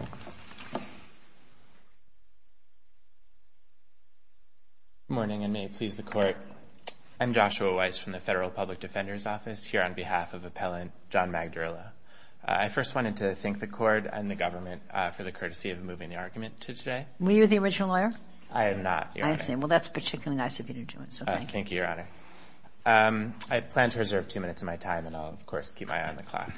Good morning, and may it please the Court, I'm Joshua Weiss from the Federal Public Defender's Office here on behalf of Appellant John Magdirila. I first wanted to thank the Court and the Government for the courtesy of moving the argument to today. Were you the original lawyer? I am not, Your Honor. I see. Well, that's particularly nice of you to do it, so thank you. Thank you, Your Honor. I plan to reserve two minutes of my time, and I'll, of course, keep my eye on the clock.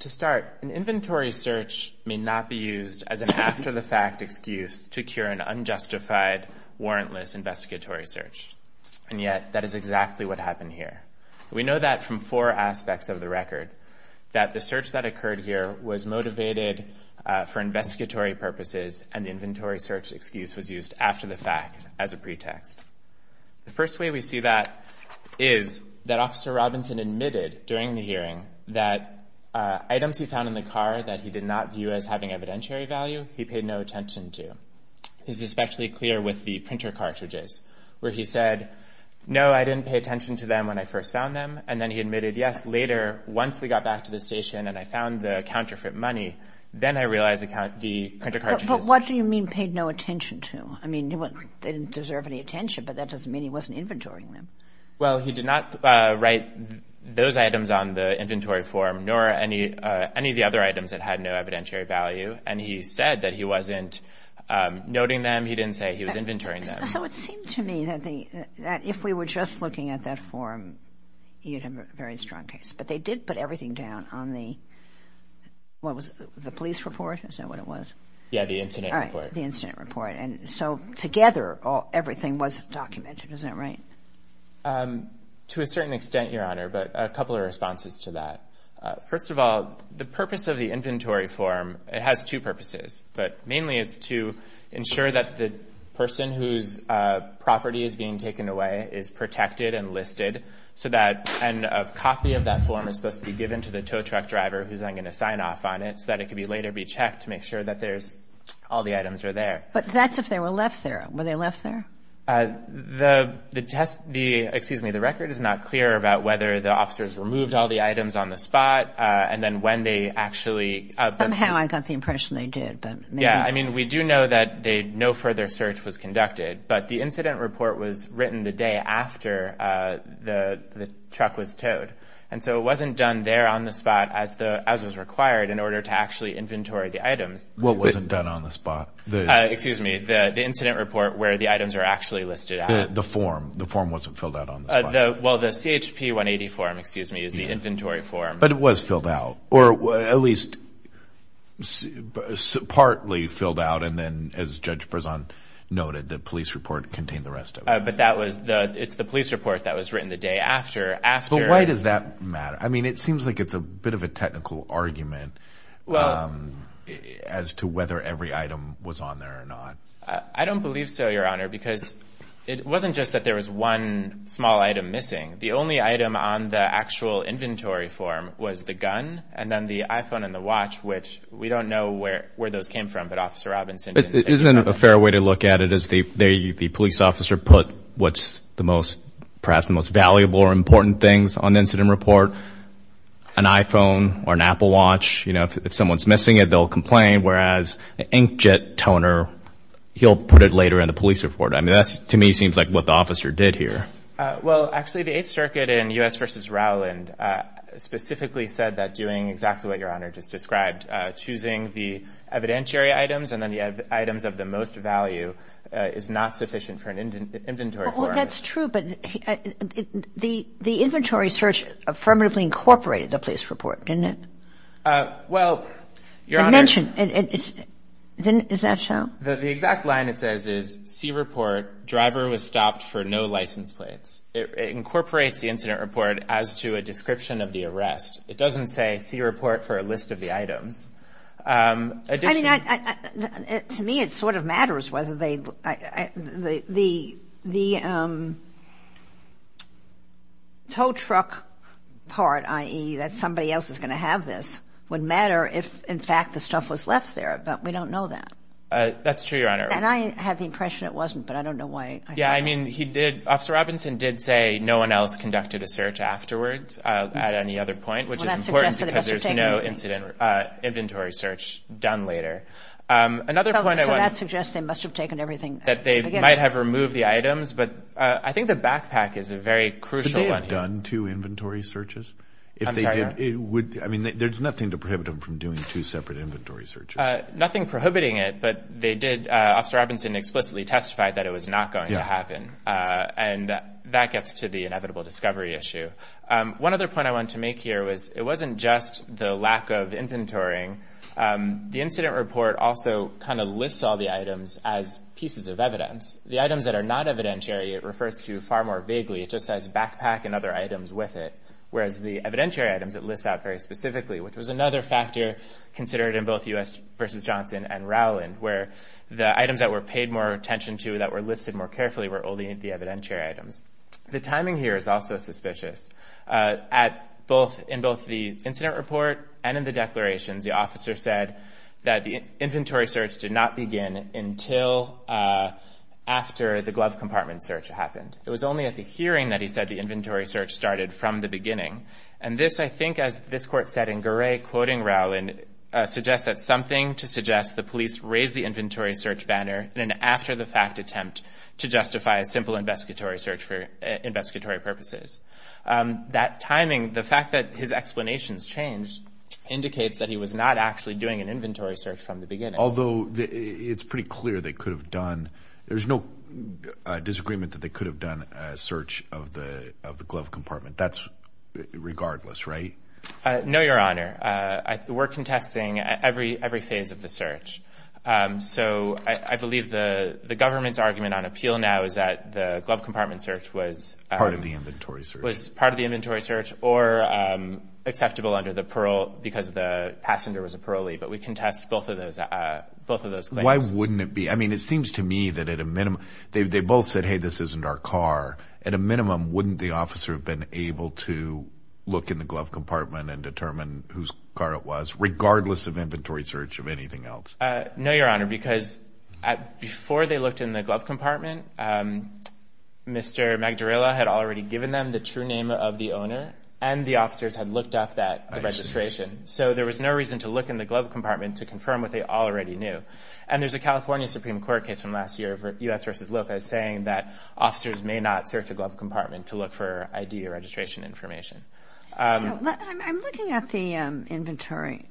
To start, an inventory search may not be used as an after-the-fact excuse to cure an unjustified, warrantless investigatory search, and yet that is exactly what happened here. We know that from four aspects of the record, that the search that occurred here was motivated for investigatory purposes and the inventory search excuse was used after the fact as a pretext. The first way we see that is that Officer Robinson admitted during the hearing that items he found in the car that he did not view as having evidentiary value, he paid no attention to. This is especially clear with the printer cartridges, where he said, no, I didn't pay attention to them when I first found them, and then he admitted, yes, later, once we got back to the station and I found the counterfeit money, then I realized the printer cartridges. But what do you mean paid no attention to? I mean, they didn't deserve any attention, but that doesn't mean he wasn't inventorying them. Well, he did not write those items on the inventory form, nor any of the other items that had no evidentiary value, and he said that he wasn't noting them, he didn't say he was inventorying them. So it seemed to me that if we were just looking at that form, you'd have a very strong case. But they did put everything down on the, what was it, the incident report. Right, the incident report. And so together, everything was documented, isn't that right? To a certain extent, Your Honor, but a couple of responses to that. First of all, the purpose of the inventory form, it has two purposes, but mainly it's to ensure that the person whose property is being taken away is protected and listed, so that a copy of that form is supposed to be given to the tow truck driver who's then all the items are there. But that's if they were left there. Were they left there? The test, the, excuse me, the record is not clear about whether the officers removed all the items on the spot, and then when they actually... Somehow I got the impression they did, but... Yeah, I mean, we do know that no further search was conducted, but the incident report was written the day after the truck was towed. And so it wasn't done there on the spot as was required in order to actually inventory the items. What wasn't done on the spot? Excuse me, the incident report where the items are actually listed. The form, the form wasn't filled out on the spot. Well, the CHP 180 form, excuse me, is the inventory form. But it was filled out, or at least partly filled out, and then as Judge Prezant noted, the police report contained the rest of it. But that was the, it's the police report that was written the day after, after... But why does that matter? I mean, it seems like it's a bit of a technical argument as to whether every item was on there or not. I don't believe so, Your Honor, because it wasn't just that there was one small item missing. The only item on the actual inventory form was the gun, and then the iPhone and the watch, which we don't know where those came from, but Officer Robinson... Isn't it a fair way to look at it as the police officer put what's the most, perhaps the most valuable or important things on the incident report, an iPhone or an Apple watch? You know, if someone's missing it, they'll complain, whereas an inkjet toner, he'll put it later in the police report. I mean, that's, to me, seems like what the officer did here. Well, actually, the Eighth Circuit in U.S. v. Rowland specifically said that doing exactly what Your Honor just described, choosing the evidentiary items and then the items of the most value is not sufficient for an inventory form. Well, that's true, but the inventory search affirmatively incorporated the police report, didn't it? Well, Your Honor... I mentioned... Is that so? The exact line it says is, see report, driver was stopped for no license plates. It incorporates the incident report as to a description of the arrest. It doesn't say, see report for a list of the items. I mean, to me, it sort of matters whether they... The tow truck part, i.e., that somebody else is going to have this, would matter if, in fact, the stuff was left there, but we don't know that. That's true, Your Honor. And I had the impression it wasn't, but I don't know why. Yeah, I mean, he did... Officer Robinson did say no one else conducted a search afterwards at any other point, which is important because there's no incident report. There's no inventory search done later. Another point I want... So that suggests they must have taken everything... That they might have removed the items, but I think the backpack is a very crucial one here. But they had done two inventory searches? I'm sorry, Your Honor. If they did, it would... I mean, there's nothing to prohibit them from doing two separate inventory searches. Nothing prohibiting it, but they did... Officer Robinson explicitly testified that it was not going to happen. Yeah. And that gets to the inevitable discovery issue. One other point I wanted to make here was it wasn't just the lack of inventorying. The incident report also kind of lists all the items as pieces of evidence. The items that are not evidentiary, it refers to far more vaguely. It just says backpack and other items with it, whereas the evidentiary items, it lists out very specifically, which was another factor considered in both U.S. v. Johnson and Rowland, where the items that were paid more attention to, that were listed more carefully, were only the evidentiary items. The timing here is also suspicious. In both the incident report and in the declarations, the officer said that the inventory search did not begin until after the glove compartment search happened. It was only at the hearing that he said the inventory search started from the beginning. And this, I think, as this Court said in Gray, quoting Rowland, suggests that something to suggest the police raised the inventory search banner in an after-the-fact attempt to justify a simple investigatory search for investigatory purposes. That timing, the fact that his explanations changed indicates that he was not actually doing an inventory search from the beginning. Although it's pretty clear they could have done, there's no disagreement that they could have done a search of the glove compartment. That's regardless, right? No, Your Honor. We're contesting every phase of the search. So I believe the government's appeal now is that the glove compartment search was part of the inventory search or acceptable under the parole because the passenger was a parolee. But we contest both of those claims. Why wouldn't it be? I mean, it seems to me that at a minimum, they both said, hey, this isn't our car. At a minimum, wouldn't the officer have been able to look in the glove compartment and determine whose car it was, regardless of inventory search or anything else? No, Your Honor, because before they looked in the glove compartment, Mr. Magdarella had already given them the true name of the owner and the officers had looked up that registration. So there was no reason to look in the glove compartment to confirm what they already knew. And there's a California Supreme Court case from last year, U.S. v. Loka, saying that officers may not search a glove compartment to look for ID or registration information. I'm looking at the inventory.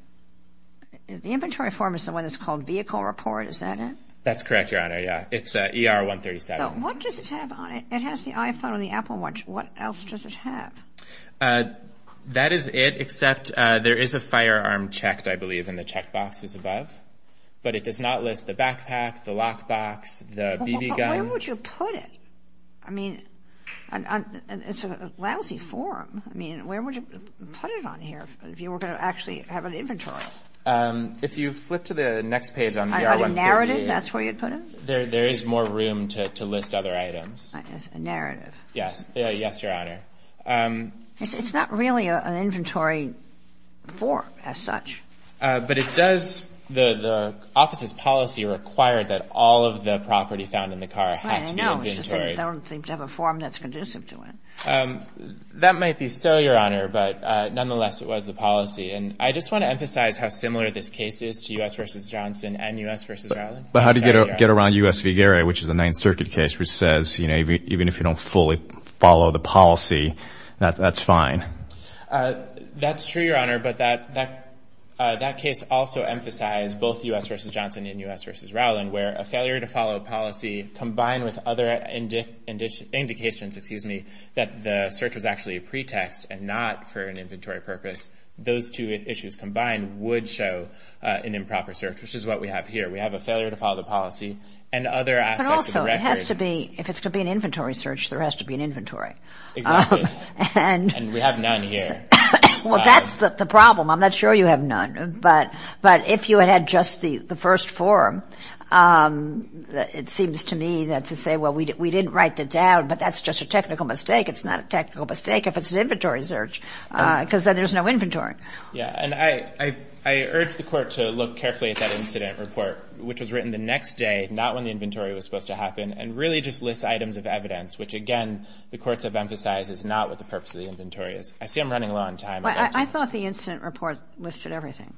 The inventory form is the one that's called vehicle report. Is that it? That's correct, Your Honor, yeah. It's ER-137. What does it have on it? It has the iPhone on the Apple Watch. What else does it have? That is it, except there is a firearm checked, I believe, in the checkboxes above. But it does not list the backpack, the lockbox, the BB gun. Where would you put it? I mean, it's a lousy form. I mean, where would you put it on here if you were going to actually have an inventory? If you flip to the next page on ER-137. A narrative, that's where you'd put it? There is more room to list other items. A narrative. Yes. Yes, Your Honor. It's not really an inventory form as such. But it does, the office's policy required that all of the property found in the car had to be inventory. Right, I know, it's just that it doesn't seem to have a form that's conducive to it. That might be so, Your Honor, but nonetheless, it was the policy. And I just want to emphasize how similar this case is to U.S. v. Johnson and U.S. v. Rowland. But how do you get around U.S. v. Gary, which is a Ninth Circuit case, which says, you know, even if you don't fully follow the policy, that's fine? That's true, Your Honor, but that case also emphasized both U.S. v. Johnson and U.S. v. Rowland, where a failure to follow policy combined with other indications that the search was actually a pretext and not for an inventory purpose, those two issues combined would show an improper search, which is what we have here. We have a failure to follow the policy and other aspects of the record. But also, if it's going to be an inventory search, there has to be an inventory. Exactly. And we have none here. Well, that's the problem. I'm not sure you have none. But if you had had just the first forum, it seems to me that to say, well, we didn't write that down, but that's just a technical mistake. It's not a technical mistake if it's an inventory search because then there's no inventory. Yeah, and I urge the Court to look carefully at that incident report, which was written the next day, not when the inventory was supposed to happen, and really just list items of evidence, which, again, the courts have emphasized is not what the purpose of the inventory is. I see I'm running low on time. I thought the incident report listed everything.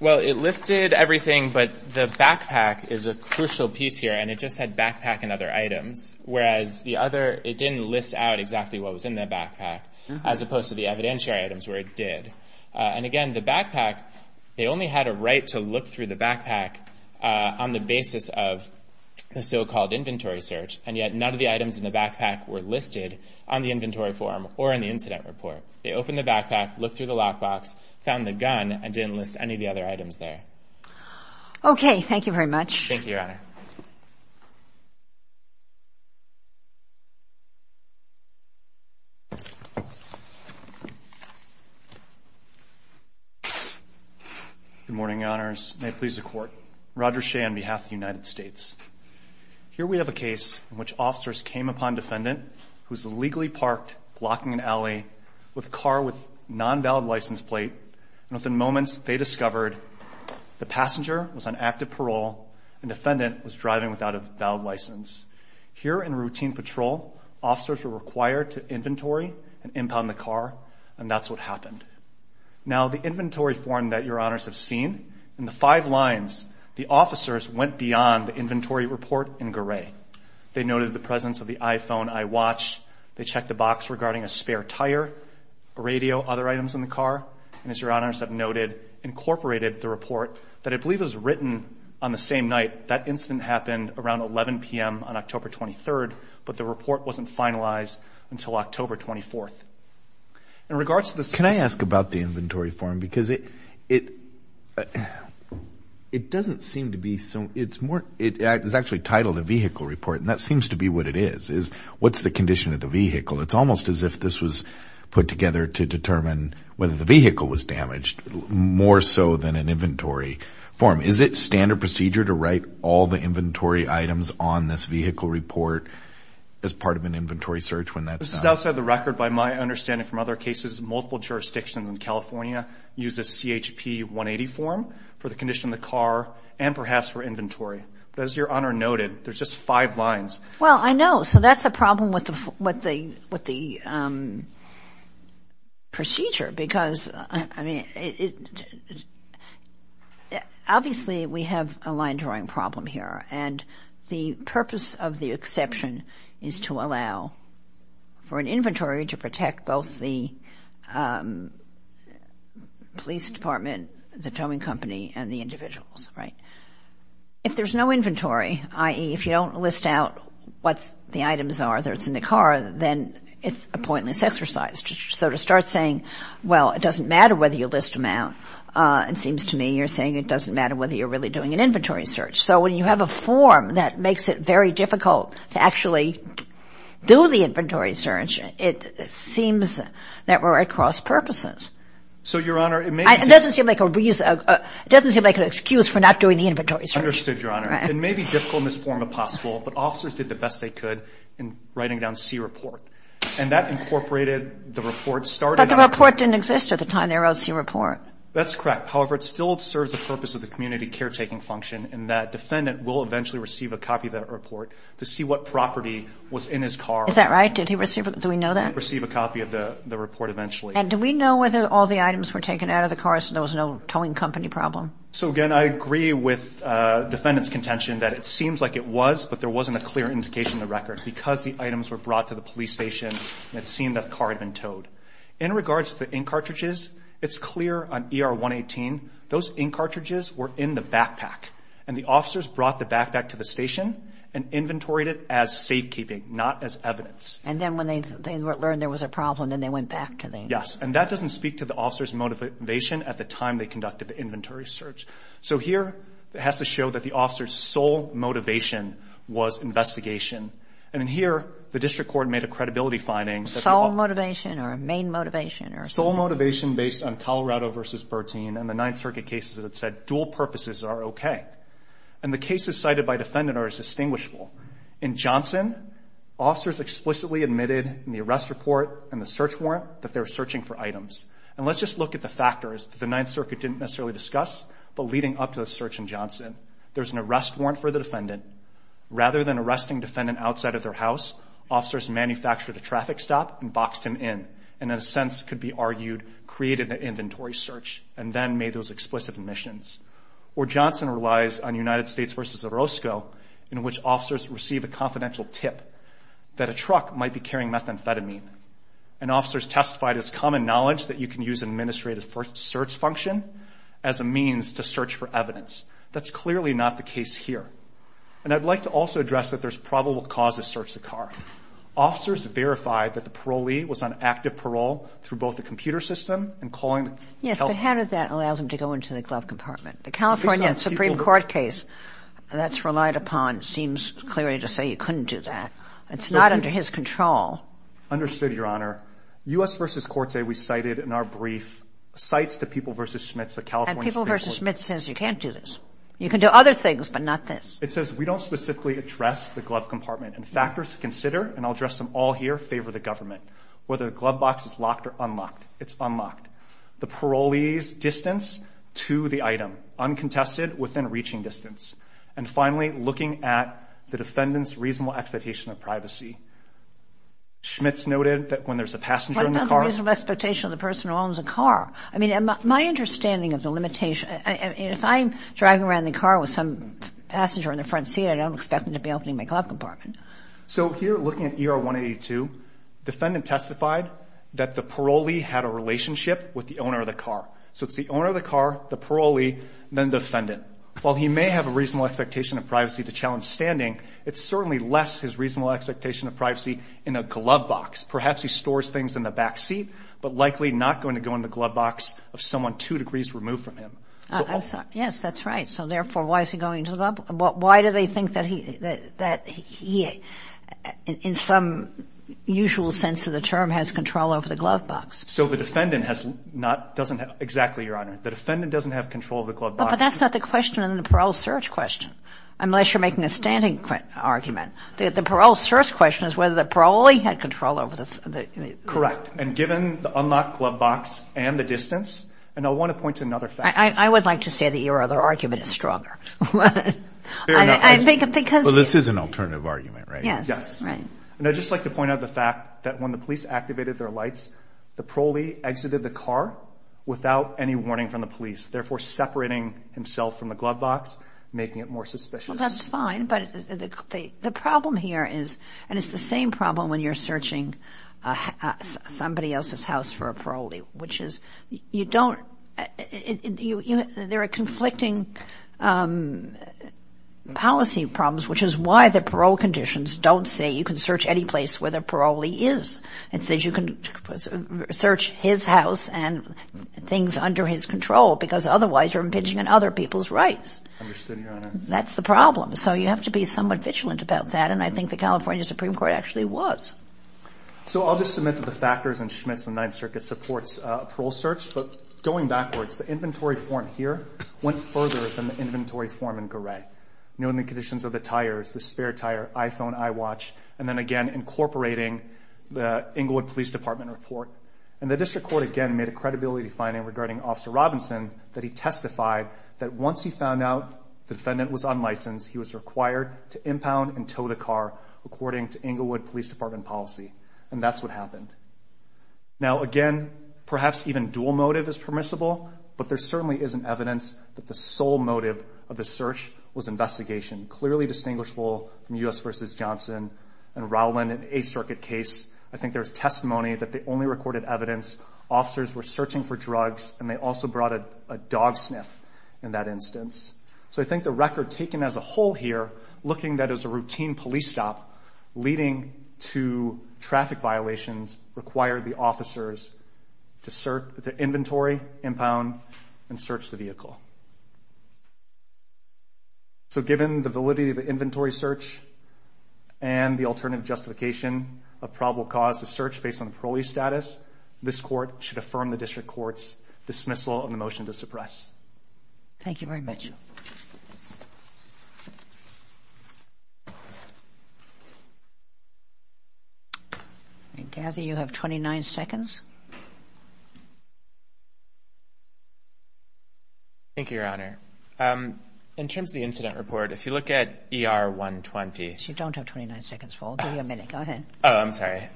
Well, it listed everything, but the backpack is a crucial piece here, and it just said backpack and other items, whereas the other, it didn't list out exactly what was in the backpack, as opposed to the evidentiary items where it did. And, again, the backpack, they only had a right to look through the backpack on the basis of the so-called inventory search, and yet none of the items in the backpack were listed on the inventory form or in the incident report. They opened the backpack, looked through the lockbox, found the gun, and didn't list any of the other items there. Okay. Thank you very much. Thank you, Your Honor. Good morning, Your Honors. May it please the Court. Roger Shea on behalf of the United States. Here we have a case in which officers came upon a defendant who was illegally parked, blocking an alley with a car with a non-valid license plate, and within moments they discovered the passenger was on active parole and the defendant was driving without a valid license. Here in routine patrol, officers were required to inventory and impound the car, and that's what happened. Now, the inventory form that Your Honors have seen, in the five lines, the officers went beyond the inventory report in gray. They noted the presence of the iPhone, iWatch. They checked the box regarding a spare tire, a radio, other items in the car, and, as Your Honors have noted, incorporated the report that I believe was written on the same night. That incident happened around 11 p.m. on October 23rd, but the report wasn't finalized until October 24th. Can I ask about the inventory form? Because it doesn't seem to be so. It's actually titled a vehicle report, and that seems to be what it is. What's the condition of the vehicle? It's almost as if this was put together to determine whether the vehicle was damaged, more so than an inventory form. Is it standard procedure to write all the inventory items on this vehicle report as part of an inventory search when that's not? As of the record, by my understanding from other cases, multiple jurisdictions in California use a CHP 180 form for the condition of the car and perhaps for inventory. But as Your Honor noted, there's just five lines. Well, I know. So that's a problem with the procedure because, I mean, obviously we have a line drawing problem here. And the purpose of the exception is to allow for an inventory to protect both the police department, the towing company, and the individuals, right? If there's no inventory, i.e., if you don't list out what the items are that's in the car, then it's a pointless exercise. So to start saying, well, it doesn't matter whether you list them out, it seems to me you're saying it doesn't matter whether you're really doing an inventory search. So when you have a form that makes it very difficult to actually do the inventory search, it seems that we're at cross-purposes. So, Your Honor, it may be difficult. It doesn't seem like a reason. It doesn't seem like an excuse for not doing the inventory search. Understood, Your Honor. It may be difficult in this form if possible, but officers did the best they could in writing down C report. And that incorporated the report started on the court. But the report didn't exist at the time they wrote C report. That's correct. However, it still serves the purpose of the community caretaking function in that defendant will eventually receive a copy of that report to see what property was in his car. Is that right? Did he receive it? Do we know that? Receive a copy of the report eventually. And do we know whether all the items were taken out of the car so there was no towing company problem? So, again, I agree with defendant's contention that it seems like it was, but there wasn't a clear indication in the record because the items were brought to the police station and it seemed that the car had been towed. In regards to the ink cartridges, it's clear on ER 118 those ink cartridges were in the backpack. And the officers brought the backpack to the station and inventoried it as safekeeping, not as evidence. And then when they learned there was a problem, then they went back to the... Yes. And that doesn't speak to the officer's motivation at the time they conducted the inventory search. So here it has to show that the officer's sole motivation was investigation. And here the district court made a credibility finding. Sole motivation or main motivation? Sole motivation based on Colorado v. Bertine and the Ninth Circuit cases that said dual purposes are okay. And the cases cited by defendant are as distinguishable. In Johnson, officers explicitly admitted in the arrest report and the search warrant that they were searching for items. And let's just look at the factors that the Ninth Circuit didn't necessarily discuss, but leading up to the search in Johnson. There's an arrest warrant for the defendant. Rather than arresting defendant outside of their house, officers manufactured a traffic stop and boxed him in, and in a sense could be argued created the inventory search and then made those explicit admissions. Or Johnson relies on United States v. Orozco in which officers receive a confidential tip that a truck might be carrying methamphetamine. And officers testified it's common knowledge that you can use administrative search function as a means to search for evidence. That's clearly not the case here. And I'd like to also address that there's probable cause to search the car. Officers verified that the parolee was on active parole through both the computer system and calling the help. Yes, but how did that allow them to go into the glove compartment? The California Supreme Court case that's relied upon seems clearly to say you couldn't do that. It's not under his control. Understood, Your Honor. U.S. v. Corte we cited in our brief cites the People v. Schmitz, the California Supreme Court. People v. Schmitz says you can't do this. You can do other things, but not this. It says we don't specifically address the glove compartment. And factors to consider, and I'll address them all here, favor the government. Whether the glove box is locked or unlocked, it's unlocked. The parolee's distance to the item, uncontested within reaching distance. And finally, looking at the defendant's reasonable expectation of privacy. Schmitz noted that when there's a passenger in the car. What about the reasonable expectation of the person who owns a car? I mean, my understanding of the limitation, if I'm driving around in the car with some passenger in the front seat, I don't expect them to be opening my glove compartment. So here, looking at ER 182, defendant testified that the parolee had a relationship with the owner of the car. So it's the owner of the car, the parolee, then defendant. While he may have a reasonable expectation of privacy to challenge standing, it's certainly less his reasonable expectation of privacy in a glove box. Perhaps he stores things in the back seat, but likely not going to go in the glove box of someone two degrees removed from him. So also. Kagan. Yes, that's right. So therefore, why is he going to the glove box? Why do they think that he, in some usual sense of the term, has control over the glove box? So the defendant has not, doesn't have, exactly, Your Honor. The defendant doesn't have control of the glove box. But that's not the question in the parole search question, unless you're making a standing argument. The parole search question is whether the parolee had control over the glove box. Correct. And given the unlocked glove box and the distance, and I want to point to another fact. I would like to say that your other argument is stronger. Fair enough. Because. Well, this is an alternative argument, right? Yes. Yes. Right. And I'd just like to point out the fact that when the police activated their lights, the parolee exited the car without any warning from the police, therefore separating himself from the glove box, making it more suspicious. Well, that's fine, but the problem here is, and it's the same problem when you're searching somebody else's house for a parolee, which is you don't, there are conflicting policy problems, which is why the parole conditions don't say you can search any place where the parolee is. It says you can search his house and things under his control, because otherwise you're impinging on other people's rights. I understand, Your Honor. That's the problem. So you have to be somewhat vigilant about that, and I think the California Supreme Court actually was. So I'll just submit that the factors in Schmitz and Ninth Circuit supports a parole search, but going backwards, the inventory form here went further than the inventory form in Garay, knowing the conditions of the tires, the spare tire, iPhone, iWatch, and then again incorporating the Inglewood Police Department report. And the district court again made a credibility finding regarding Officer Robinson that he testified that once he found out the defendant was unlicensed, he was required to impound and tow the car according to Inglewood Police Department policy, and that's what happened. Now, again, perhaps even dual motive is permissible, but there certainly isn't evidence that the sole motive of the search was investigation, clearly distinguishable from U.S. v. Johnson and Rowland in a circuit case. I think there was testimony that they only recorded evidence. Officers were searching for drugs, and they also brought a dog sniff in that instance. So I think the record taken as a whole here, looking at it as a routine police stop, leading to traffic violations, required the officers to search the inventory, impound, and search the vehicle. So given the validity of the inventory search and the alternative justification of probable cause to search based on parolee status, this court should affirm the district court's dismissal and the motion to suppress. Thank you very much. I gather you have 29 seconds. Thank you, Your Honor. In terms of the incident report, if you look at ER 120. You don't have 29 seconds, Paul. Give you a minute. Go ahead. Oh, I'm sorry.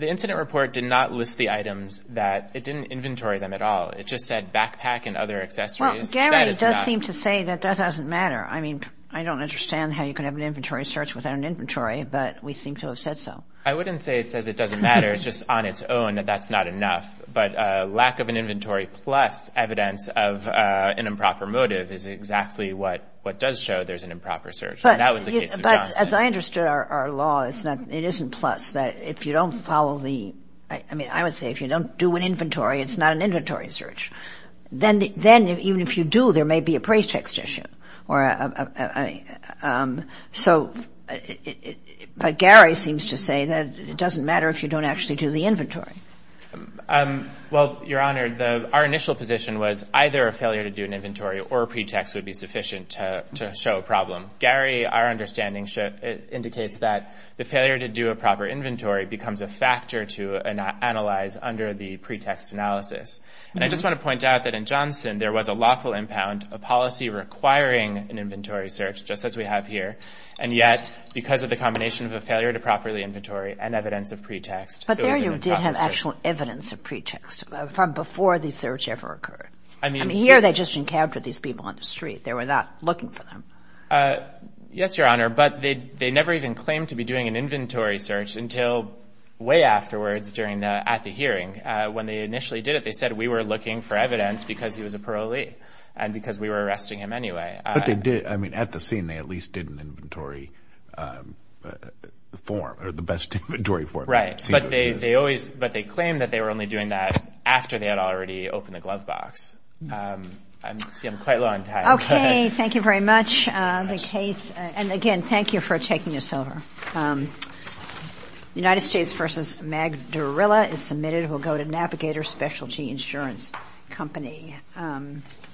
The incident report did not list the items that it didn't inventory them at all. It just said backpack and other accessories. Well, Gary does seem to say that that doesn't matter. I mean, I don't understand how you can have an inventory search without an inventory, but we seem to have said so. I wouldn't say it says it doesn't matter. It's just on its own that that's not enough. But lack of an inventory plus evidence of an improper motive is exactly what does show there's an improper search. That was the case of Johnston. But as I understood our law, it isn't plus. If you don't follow the – I mean, I would say if you don't do an inventory, it's not an inventory search. Then even if you do, there may be a pretext issue. So Gary seems to say that it doesn't matter if you don't actually do the inventory. Well, Your Honor, our initial position was either a failure to do an inventory or a pretext would be sufficient to show a problem. Gary, our understanding indicates that the failure to do a proper inventory becomes a factor to analyze under the pretext analysis. And I just want to point out that in Johnston, there was a lawful impound, a policy requiring an inventory search, just as we have here, and yet because of the combination of a failure to properly inventory and evidence of pretext, it was an improper search. But there you did have actual evidence of pretext from before the search ever occurred. I mean, here they just encountered these people on the street. They were not looking for them. Yes, Your Honor, but they never even claimed to be doing an inventory search until way afterwards during the – at the hearing. When they initially did it, they said we were looking for evidence because he was a parolee and because we were arresting him anyway. But they did – I mean, at the scene, they at least did an inventory form or the best inventory form. Right. But they always – but they claimed that they were only doing that after they had already opened the glove box. I see I'm quite low on time. Okay. Thank you very much. The case – and again, thank you for taking this over. United States v. Magdarilla is submitted. It will go to Navigator Specialty Insurance Company.